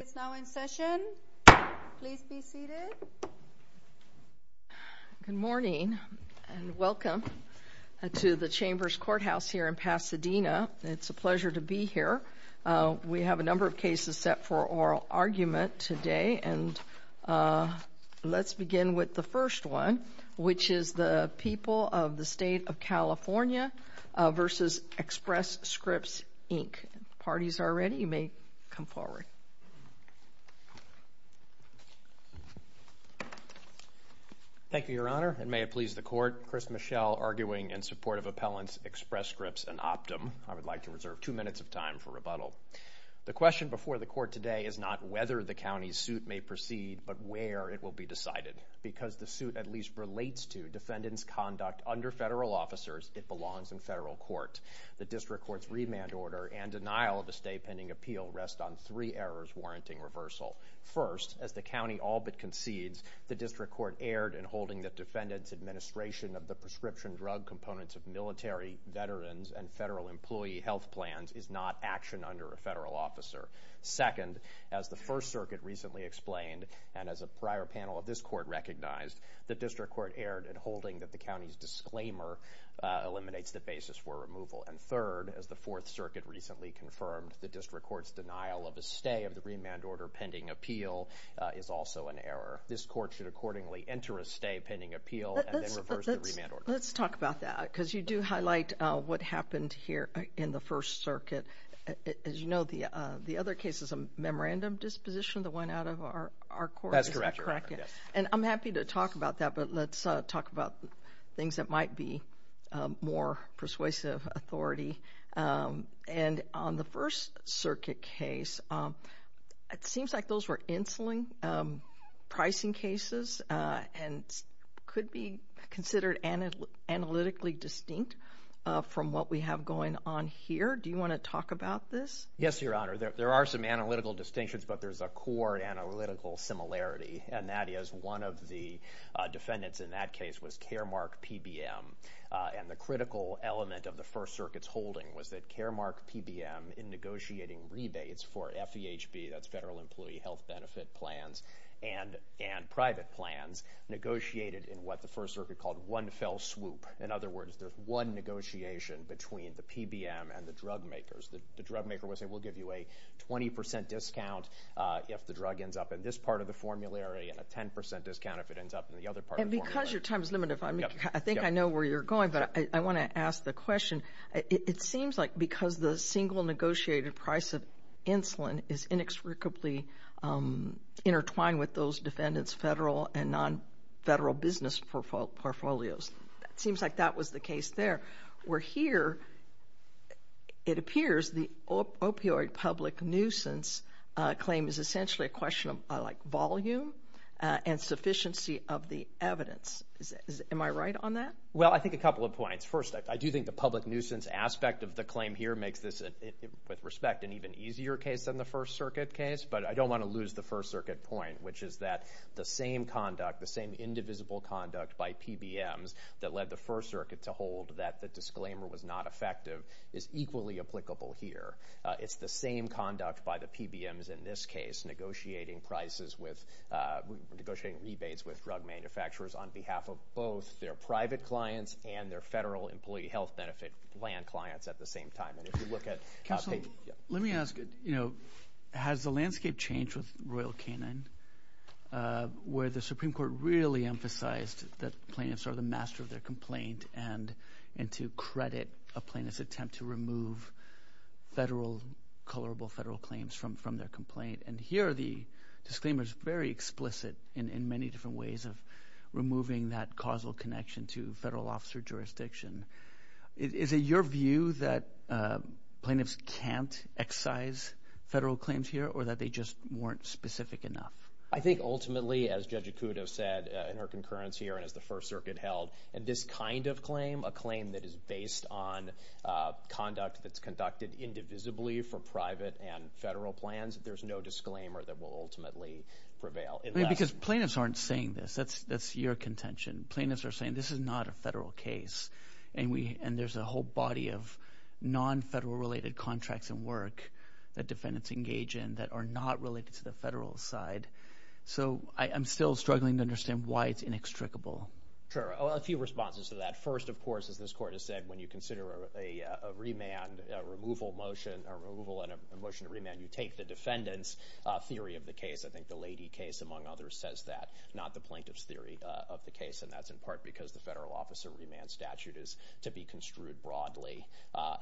It's now in session. Please be seated. Good morning and welcome to the Chambers Courthouse here in Pasadena. It's a pleasure to be here. We have a number of cases set for oral argument today, and let's begin with the first one, which is the People of the State of California v. Express Scripts, Inc. If parties are ready, you may come forward. Thank you, Your Honor, and may it please the Court, Chris Michel arguing in support of Appellants, Express Scripts, and Optum. I would like to reserve two minutes of time for rebuttal. The question before the Court today is not whether the county's suit may proceed, but where it will be decided. Because the suit at least relates to defendants' conduct under federal officers, it belongs in federal court. The district court's remand order and denial of a stay pending appeal rest on three errors warranting reversal. First, as the county all but concedes, the district court erred in holding that defendants' administration of the prescription drug components of military, veterans, and federal employee health plans is not action under a federal officer. Second, as the First Circuit recently explained, and as a prior panel of this court recognized, the district court erred in holding that the county's disclaimer eliminates the basis for removal. And third, as the Fourth Circuit recently confirmed, the district court's denial of a stay of the remand order pending appeal is also an error. This court should accordingly enter a stay pending appeal and then reverse the remand order. Let's talk about that because you do highlight what happened here in the First Circuit. As you know, the other case is a memorandum disposition, the one out of our court. That's correct, Your Honor. And I'm happy to talk about that, but let's talk about things that might be more persuasive authority. And on the First Circuit case, it seems like those were insulin pricing cases and could be considered analytically distinct from what we have going on here. Do you want to talk about this? Yes, Your Honor. There are some analytical distinctions, but there's a core analytical similarity, and that is one of the defendants in that case was Caremark PBM. And the critical element of the First Circuit's holding was that Caremark PBM, in negotiating rebates for FEHB, that's Federal Employee Health Benefit plans, and private plans, negotiated in what the First Circuit called one fell swoop. In other words, there's one negotiation between the PBM and the drug makers. The drug maker will say we'll give you a 20% discount if the drug ends up in this part of the formulary and a 10% discount if it ends up in the other part of the formulary. And because your time is limited, I think I know where you're going, but I want to ask the question. It seems like because the single negotiated price of insulin is inexplicably intertwined with those defendants' federal and non-federal business portfolios. It seems like that was the case there. Where here it appears the opioid public nuisance claim is essentially a question of volume and sufficiency of the evidence. Am I right on that? Well, I think a couple of points. First, I do think the public nuisance aspect of the claim here makes this, with respect, an even easier case than the First Circuit case. But I don't want to lose the First Circuit point, which is that the same conduct, the same indivisible conduct by PBMs that led the First Circuit to hold that the disclaimer was not effective is equally applicable here. It's the same conduct by the PBMs in this case negotiating prices with, negotiating rebates with drug manufacturers on behalf of both their private clients and their federal employee health benefit land clients at the same time. And if you look at- Counselor, let me ask, you know, has the landscape changed with Royal Canine where the Supreme Court really emphasized that plaintiffs are the master of their complaint and to credit a plaintiff's attempt to remove federal, colorable federal claims from their complaint? And here the disclaimer is very explicit in many different ways of removing that causal connection to federal officer jurisdiction. Is it your view that plaintiffs can't excise federal claims here or that they just weren't specific enough? I think ultimately, as Judge Ikuto said in her concurrence here and as the First Circuit held, in this kind of claim, a claim that is based on conduct that's conducted indivisibly for private and federal plans, there's no disclaimer that will ultimately prevail. Because plaintiffs aren't saying this. That's your contention. Plaintiffs are saying this is not a federal case, and there's a whole body of non-federal-related contracts and work that defendants engage in that are not related to the federal side. So I'm still struggling to understand why it's inextricable. Sure. A few responses to that. First, of course, as this Court has said, when you consider a remand, a removal motion, a removal and a motion to remand, you take the defendant's theory of the case. I think the Lady case, among others, says that, not the plaintiff's theory of the case. And that's in part because the federal officer remand statute is to be construed broadly.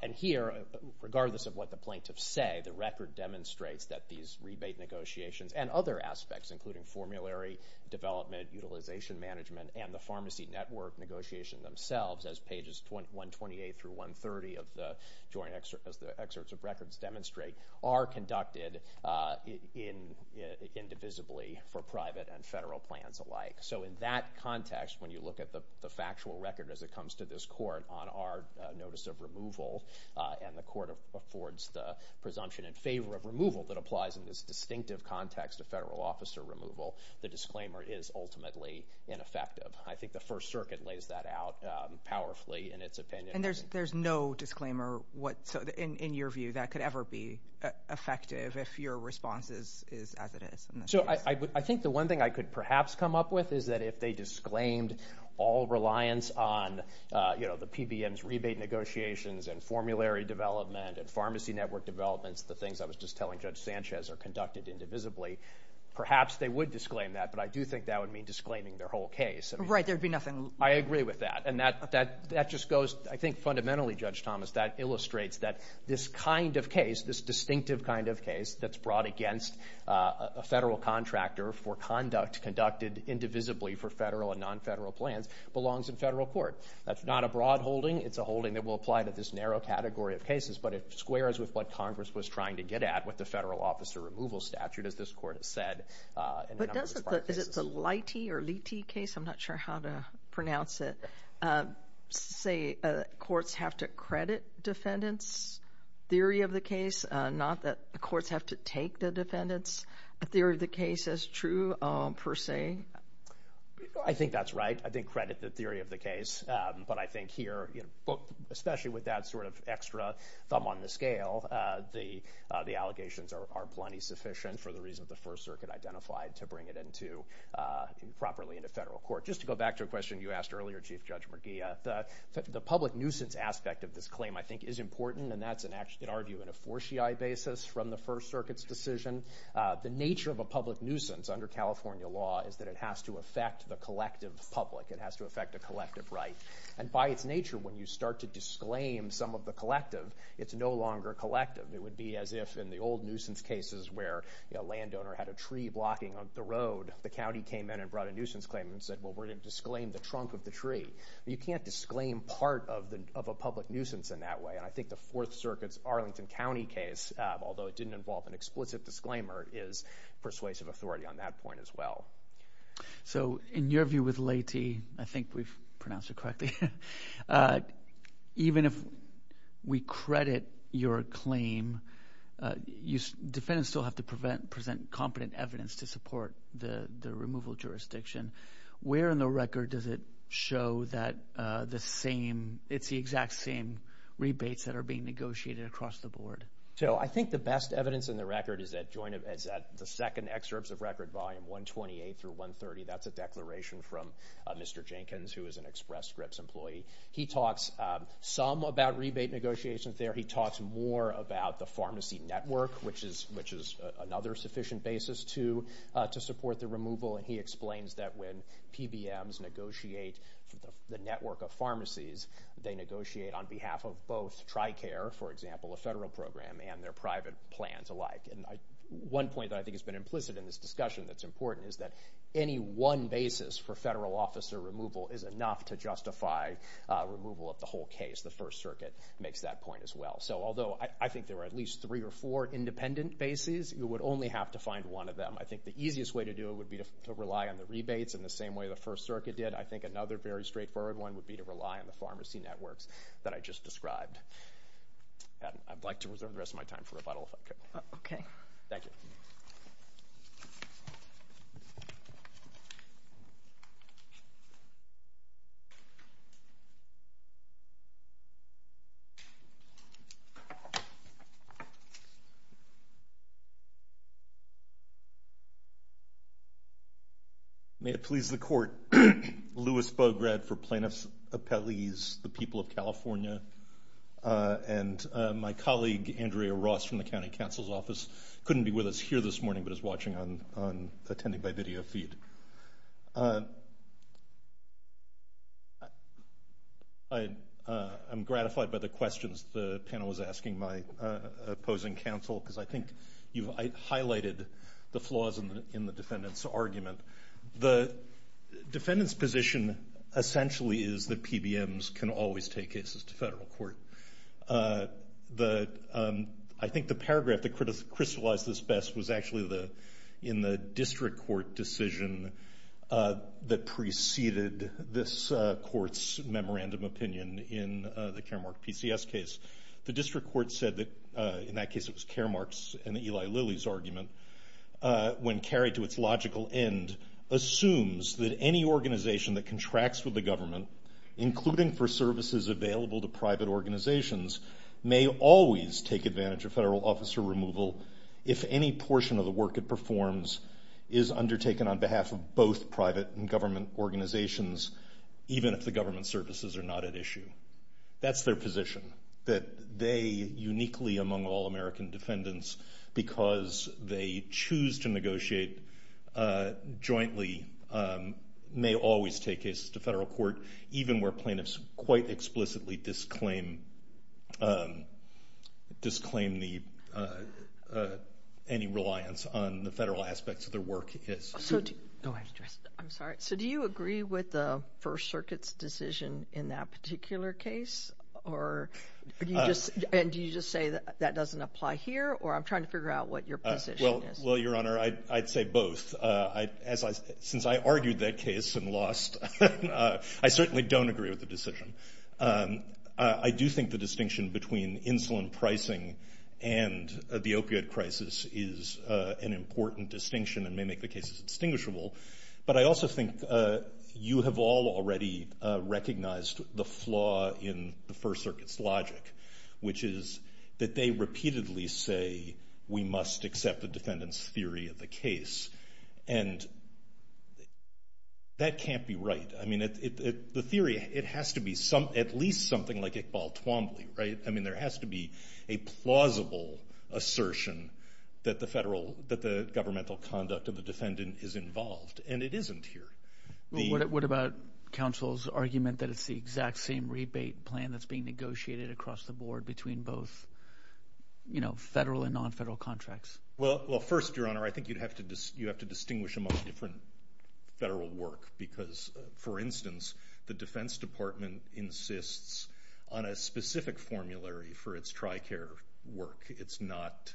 And here, regardless of what the plaintiffs say, the record demonstrates that these rebate negotiations and other aspects, including formulary development, utilization management, and the pharmacy network negotiations themselves, as Pages 128 through 130 of the Joint Excerpts of Records demonstrate, are conducted indivisibly for private and federal plans alike. So in that context, when you look at the factual record as it comes to this Court on our notice of removal, and the Court affords the presumption in favor of removal that applies in this distinctive context of federal officer removal, the disclaimer is ultimately ineffective. I think the First Circuit lays that out powerfully in its opinion. And there's no disclaimer in your view that could ever be effective if your response is as it is? So I think the one thing I could perhaps come up with is that if they disclaimed all reliance on, you know, the PBM's rebate negotiations and formulary development and pharmacy network developments, the things I was just telling Judge Sanchez are conducted indivisibly, perhaps they would disclaim that. But I do think that would mean disclaiming their whole case. Right. There would be nothing. I agree with that. And that just goes, I think, fundamentally, Judge Thomas, that illustrates that this kind of case, this distinctive kind of case that's brought against a federal contractor for conduct conducted indivisibly for federal and non-federal plans belongs in federal court. That's not a broad holding. It's a holding that will apply to this narrow category of cases, but it squares with what Congress was trying to get at with the federal officer removal statute, as this Court has said. But is it the Leite or Leite case? I'm not sure how to pronounce it. Say courts have to credit defendants' theory of the case, not that the courts have to take the defendants' theory of the case as true per se. I think that's right. I think credit the theory of the case. But I think here, especially with that sort of extra thumb on the scale, the allegations are plenty sufficient for the reason the First Circuit identified to bring it into, properly into federal court. Just to go back to a question you asked earlier, Chief Judge McGee, the public nuisance aspect of this claim, I think, is important, and that's, in our view, in a fortiae basis from the First Circuit's decision. The nature of a public nuisance under California law is that it has to affect the collective public. It has to affect the collective right. And by its nature, when you start to disclaim some of the collective, it's no longer collective. It would be as if in the old nuisance cases where a landowner had a tree blocking the road, the county came in and brought a nuisance claim and said, well, we're going to disclaim the trunk of the tree. You can't disclaim part of a public nuisance in that way. And I think the Fourth Circuit's Arlington County case, although it didn't involve an explicit disclaimer, is persuasive authority on that point as well. So in your view with Leyte, I think we've pronounced it correctly, even if we credit your claim, defendants still have to present competent evidence to support the removal jurisdiction. Where in the record does it show that it's the exact same rebates that are being negotiated across the board? So I think the best evidence in the record is at the second excerpts of Record Volume 128 through 130. That's a declaration from Mr. Jenkins, who is an Express Scripts employee. He talks some about rebate negotiations there. He talks more about the pharmacy network, which is another sufficient basis to support the removal. And he explains that when PBMs negotiate the network of pharmacies, they negotiate on behalf of both TriCare, for example, a federal program, and their private plans alike. And one point that I think has been implicit in this discussion that's important is that any one basis for federal officer removal is enough to justify removal of the whole case. The First Circuit makes that point as well. So although I think there are at least three or four independent bases, you would only have to find one of them. I think the easiest way to do it would be to rely on the rebates in the same way the First Circuit did. I think another very straightforward one would be to rely on the pharmacy networks that I just described. I'd like to reserve the rest of my time for rebuttal, if I could. Okay. Thank you. May it please the Court. Louis Bograd for Plaintiffs' Appellees, the people of California, and my colleague Andrea Ross from the County Counsel's Office couldn't be with us here this morning but is watching on attending by video feed. I'm gratified by the questions the panel was asking my opposing counsel because I think you've highlighted the flaws in the defendant's argument. The defendant's position essentially is that PBMs can always take cases to federal court. I think the paragraph that crystallized this best was actually in the district court decision that preceded this court's memorandum opinion in the Caremark PCS case. The district court said that in that case it was Caremark's and Eli Lilly's argument, when carried to its logical end, assumes that any organization that contracts with the government, including for services available to private organizations, may always take advantage of federal officer removal if any portion of the work it performs is undertaken on behalf of both private and government organizations, even if the government services are not at issue. That's their position, that they, uniquely among all American defendants, because they choose to negotiate jointly, may always take cases to federal court, even where plaintiffs quite explicitly disclaim any reliance on the federal aspects of their work. I'm sorry, so do you agree with the First Circuit's decision in that particular case? And do you just say that that doesn't apply here, or I'm trying to figure out what your position is? Well, Your Honor, I'd say both. Since I argued that case and lost, I certainly don't agree with the decision. I do think the distinction between insulin pricing and the opiate crisis is an important distinction and may make the cases distinguishable. But I also think you have all already recognized the flaw in the First Circuit's logic, which is that they repeatedly say we must accept the defendant's theory of the case. And that can't be right. I mean, the theory, it has to be at least something like Iqbal Twombly, right? I mean, there has to be a plausible assertion that the governmental conduct of the defendant is involved. And it isn't here. What about counsel's argument that it's the exact same rebate plan that's being negotiated across the board between both federal and non-federal contracts? Well, first, Your Honor, I think you have to distinguish among different federal work. Because, for instance, the Defense Department insists on a specific formulary for its TRICARE work. It's not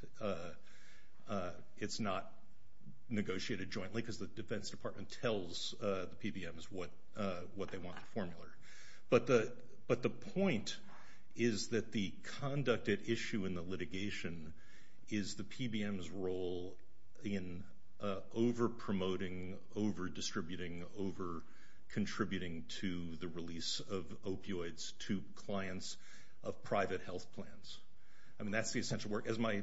negotiated jointly because the Defense Department tells the PBMs what they want in the formula. But the point is that the conducted issue in the litigation is the PBMs' role in over-promoting, over-distributing, over-contributing to the release of opioids to clients of private health plans. I mean, that's the essential work. As my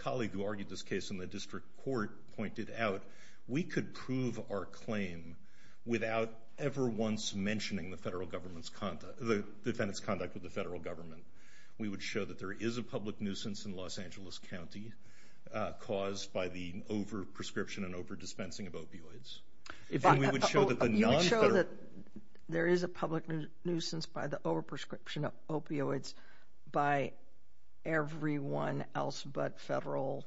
colleague who argued this case in the district court pointed out, we could prove our claim without ever once mentioning the defendant's conduct with the federal government. We would show that there is a public nuisance in Los Angeles County caused by the over-prescription and over-dispensing of opioids. You would show that there is a public nuisance by the over-prescription of opioids by everyone else but federal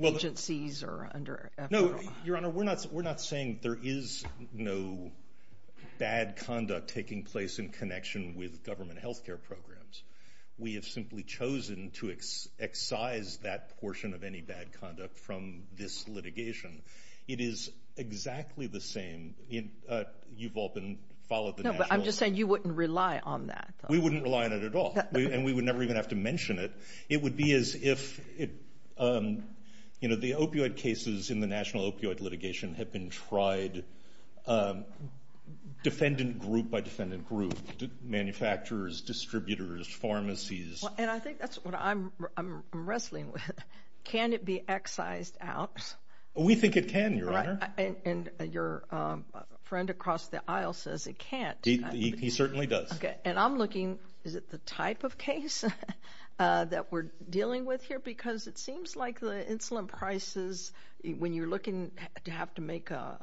agencies or under federal law? No, Your Honor, we're not saying there is no bad conduct taking place in connection with government health care programs. We have simply chosen to excise that portion of any bad conduct from this litigation. It is exactly the same. You've all been – followed the national – No, but I'm just saying you wouldn't rely on that. We wouldn't rely on it at all, and we would never even have to mention it. It would be as if it – you know, the opioid cases in the national opioid litigation have been tried, defendant group by defendant group, manufacturers, distributors, pharmacies. And I think that's what I'm wrestling with. Can it be excised out? We think it can, Your Honor. And your friend across the aisle says it can't. He certainly does. And I'm looking – is it the type of case that we're dealing with here? Because it seems like the insulin prices, when you're looking to have to make a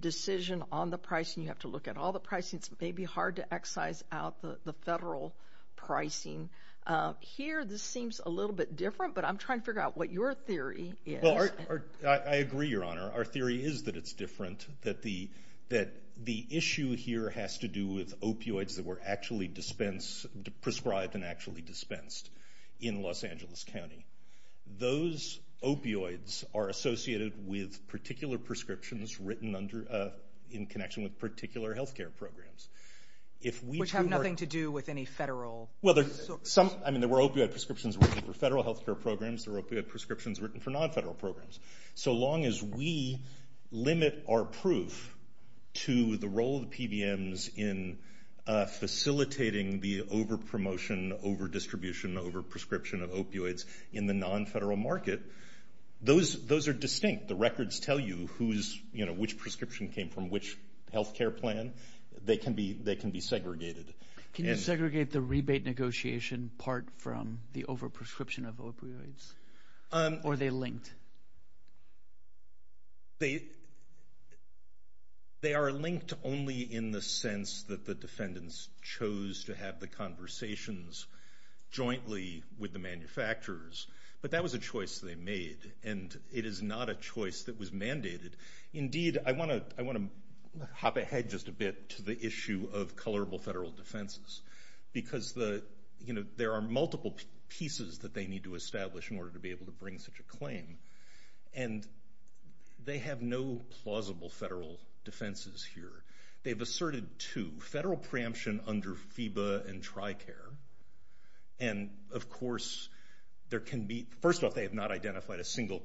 decision on the pricing, you have to look at all the pricings. It may be hard to excise out the federal pricing. Here, this seems a little bit different, but I'm trying to figure out what your theory is. Well, I agree, Your Honor. Our theory is that it's different, that the issue here has to do with opioids that were actually dispensed – prescribed and actually dispensed in Los Angeles County. Those opioids are associated with particular prescriptions written under – in connection with particular health care programs. Which have nothing to do with any federal – Well, there's some – I mean, there were opioid prescriptions written for federal health care programs. There were opioid prescriptions written for non-federal programs. So long as we limit our proof to the role of the PBMs in facilitating the over-promotion, over-distribution, over-prescription of opioids in the non-federal market, those are distinct. The records tell you who's – which prescription came from which health care plan. They can be segregated. Can you segregate the rebate negotiation part from the over-prescription of opioids? Or are they linked? They are linked only in the sense that the defendants chose to have the conversations jointly with the manufacturers. But that was a choice they made. And it is not a choice that was mandated. Indeed, I want to hop ahead just a bit to the issue of colorable federal defenses. Because there are multiple pieces that they need to establish in order to be able to bring such a claim. And they have no plausible federal defenses here. They've asserted two. Federal preemption under FEBA and TRICARE. And, of course, there can be – first off, they have not identified a single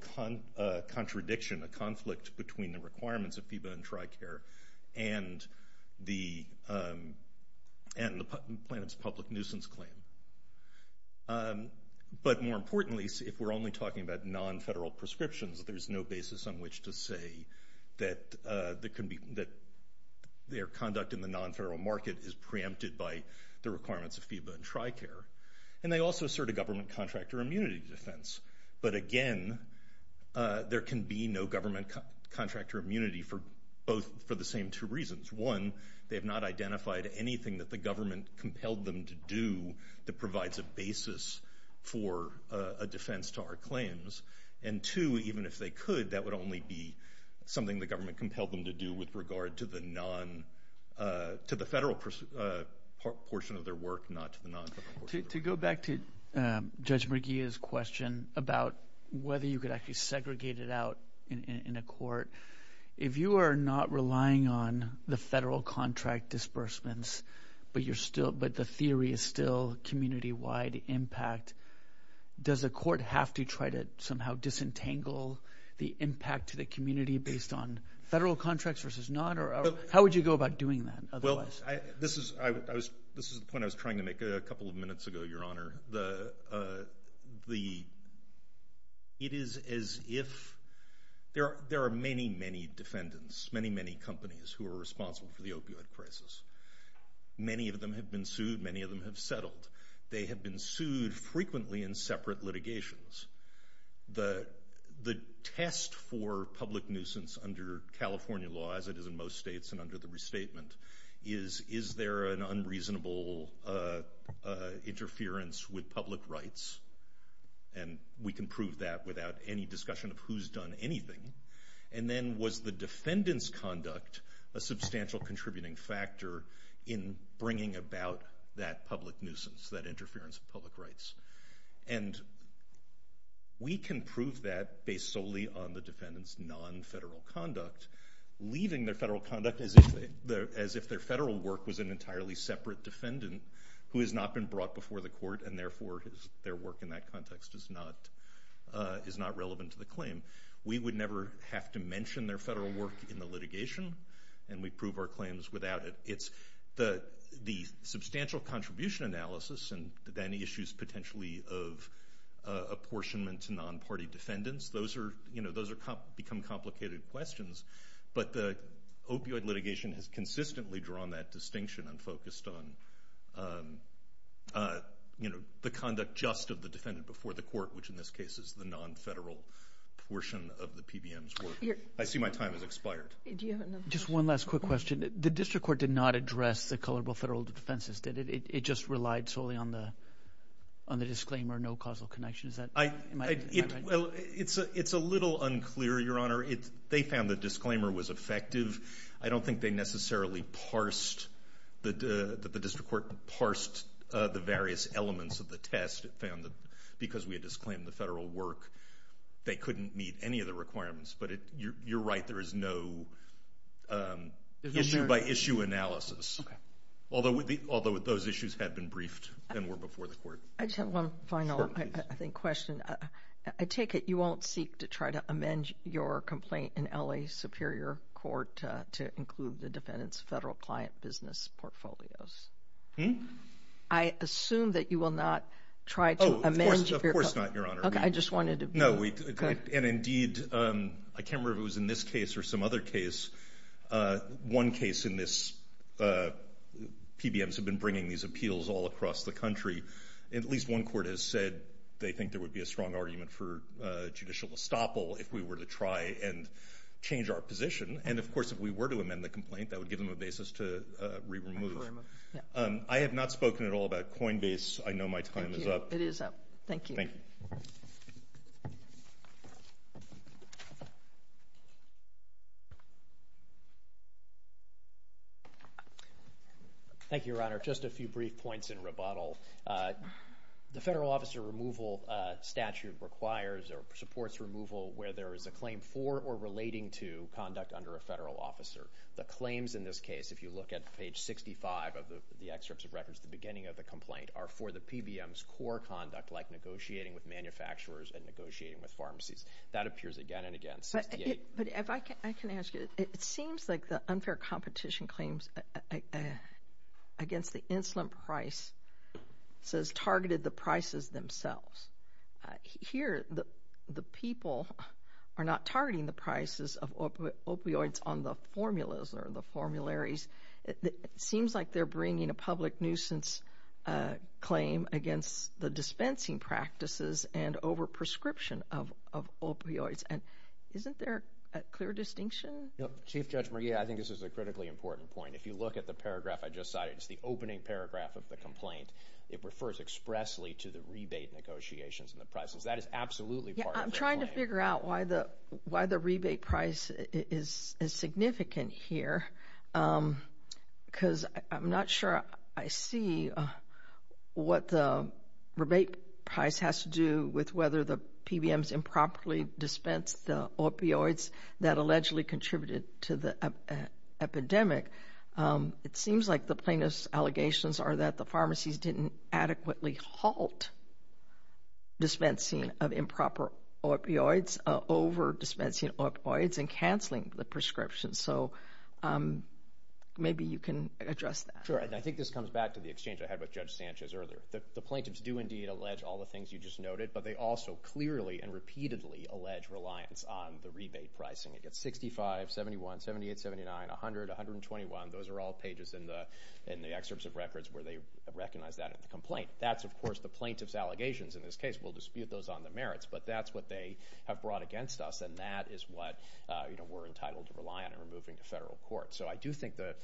contradiction, a conflict between the requirements of FEBA and TRICARE and the plaintiff's public nuisance claim. But more importantly, if we're only talking about non-federal prescriptions, there's no basis on which to say that their conduct in the non-federal market is preempted by the requirements of FEBA and TRICARE. And they also assert a government contractor immunity defense. But, again, there can be no government contractor immunity for both – for the same two reasons. One, they have not identified anything that the government compelled them to do that provides a basis for a defense to our claims. And, two, even if they could, that would only be something the government compelled them to do with regard to the non – to the federal portion of their work, not to the non-federal portion of their work. To go back to Judge Merguia's question about whether you could actually segregate it out in a court, if you are not relying on the federal contract disbursements but you're still – but the theory is still community-wide impact, does a court have to try to somehow disentangle the impact to the community based on federal contracts versus not? Or how would you go about doing that otherwise? This is the point I was trying to make a couple of minutes ago, Your Honor. The – it is as if – there are many, many defendants, many, many companies who are responsible for the opioid crisis. Many of them have been sued. Many of them have settled. They have been sued frequently in separate litigations. The test for public nuisance under California law, as it is in most states and under the restatement, is is there an unreasonable interference with public rights? And we can prove that without any discussion of who's done anything. And then was the defendant's conduct a substantial contributing factor in bringing about that public nuisance, that interference with public rights? And we can prove that based solely on the defendant's non-federal conduct, leaving their federal conduct as if their federal work was an entirely separate defendant who has not been brought before the court and, therefore, their work in that context is not relevant to the claim. We would never have to mention their federal work in the litigation, and we prove our claims without it. The substantial contribution analysis and then issues potentially of apportionment to non-party defendants, those become complicated questions, but the opioid litigation has consistently drawn that distinction and focused on the conduct just of the defendant before the court, which in this case is the non-federal portion of the PBM's work. I see my time has expired. Do you have another question? Just one last quick question. The district court did not address the colorable federal defenses, did it? It just relied solely on the disclaimer, no causal connection. Is that right? It's a little unclear, Your Honor. They found the disclaimer was effective. I don't think they necessarily parsed, that the district court parsed the various elements of the test. It found that because we had disclaimed the federal work, they couldn't meet any of the requirements. But you're right. There is no issue-by-issue analysis, although those issues had been briefed and were before the court. I just have one final, I think, question. I take it you won't seek to try to amend your complaint in L.A. Superior Court to include the defendant's federal client business portfolios. I assume that you will not try to amend your complaint. Of course not, Your Honor. I just wanted to be clear. And, indeed, I can't remember if it was in this case or some other case. One case in this, PBMs have been bringing these appeals all across the country. At least one court has said they think there would be a strong argument for judicial estoppel if we were to try and change our position. And, of course, if we were to amend the complaint, that would give them a basis to re-remove. I have not spoken at all about Coinbase. I know my time is up. It is up. Thank you. Thank you. Thank you, Your Honor. Just a few brief points in rebuttal. The federal officer removal statute requires or supports removal where there is a claim for or relating to conduct under a federal officer. The claims in this case, if you look at page 65 of the excerpts of records are for the PBMs' core conduct like negotiating with manufacturers and negotiating with pharmacies. That appears again and again. But if I can ask you, it seems like the unfair competition claims against the insulin price says targeted the prices themselves. Here, the people are not targeting the prices of opioids on the formulas or the formularies. It seems like they're bringing a public nuisance claim against the dispensing practices and over-prescription of opioids. Isn't there a clear distinction? Chief Judge McGee, I think this is a critically important point. If you look at the paragraph I just cited, it's the opening paragraph of the complaint. It refers expressly to the rebate negotiations and the prices. That is absolutely part of the claim. We're trying to figure out why the rebate price is significant here because I'm not sure I see what the rebate price has to do with whether the PBMs improperly dispensed the opioids that allegedly contributed to the epidemic. It seems like the plaintiff's allegations are that the pharmacies didn't adequately halt dispensing of improper opioids, over-dispensing opioids, and canceling the prescriptions. So maybe you can address that. Sure, and I think this comes back to the exchange I had with Judge Sanchez earlier. The plaintiffs do indeed allege all the things you just noted, but they also clearly and repeatedly allege reliance on the rebate pricing. It gets $65, $71, $78, $79, $100, $121. Those are all pages in the excerpts of records where they recognize that in the complaint. That's, of course, the plaintiff's allegations in this case. We'll dispute those on the merits, but that's what they have brought against us, and that is what we're entitled to rely on when we're moving to federal court. So I do think the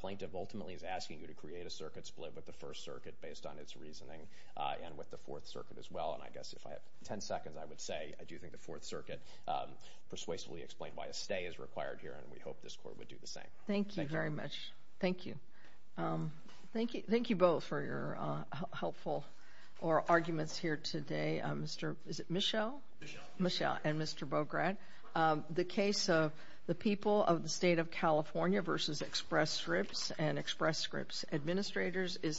plaintiff ultimately is asking you to create a circuit split with the First Circuit based on its reasoning and with the Fourth Circuit as well. And I guess if I had 10 seconds, I would say I do think the Fourth Circuit persuasively explained why a stay is required here, and we hope this court would do the same. Thank you very much. Thank you. Thank you both for your helpful arguments here today, Michelle and Mr. Bograd. The case of the people of the State of California v. Express Scripps and Express Scripps Administrators is submitted.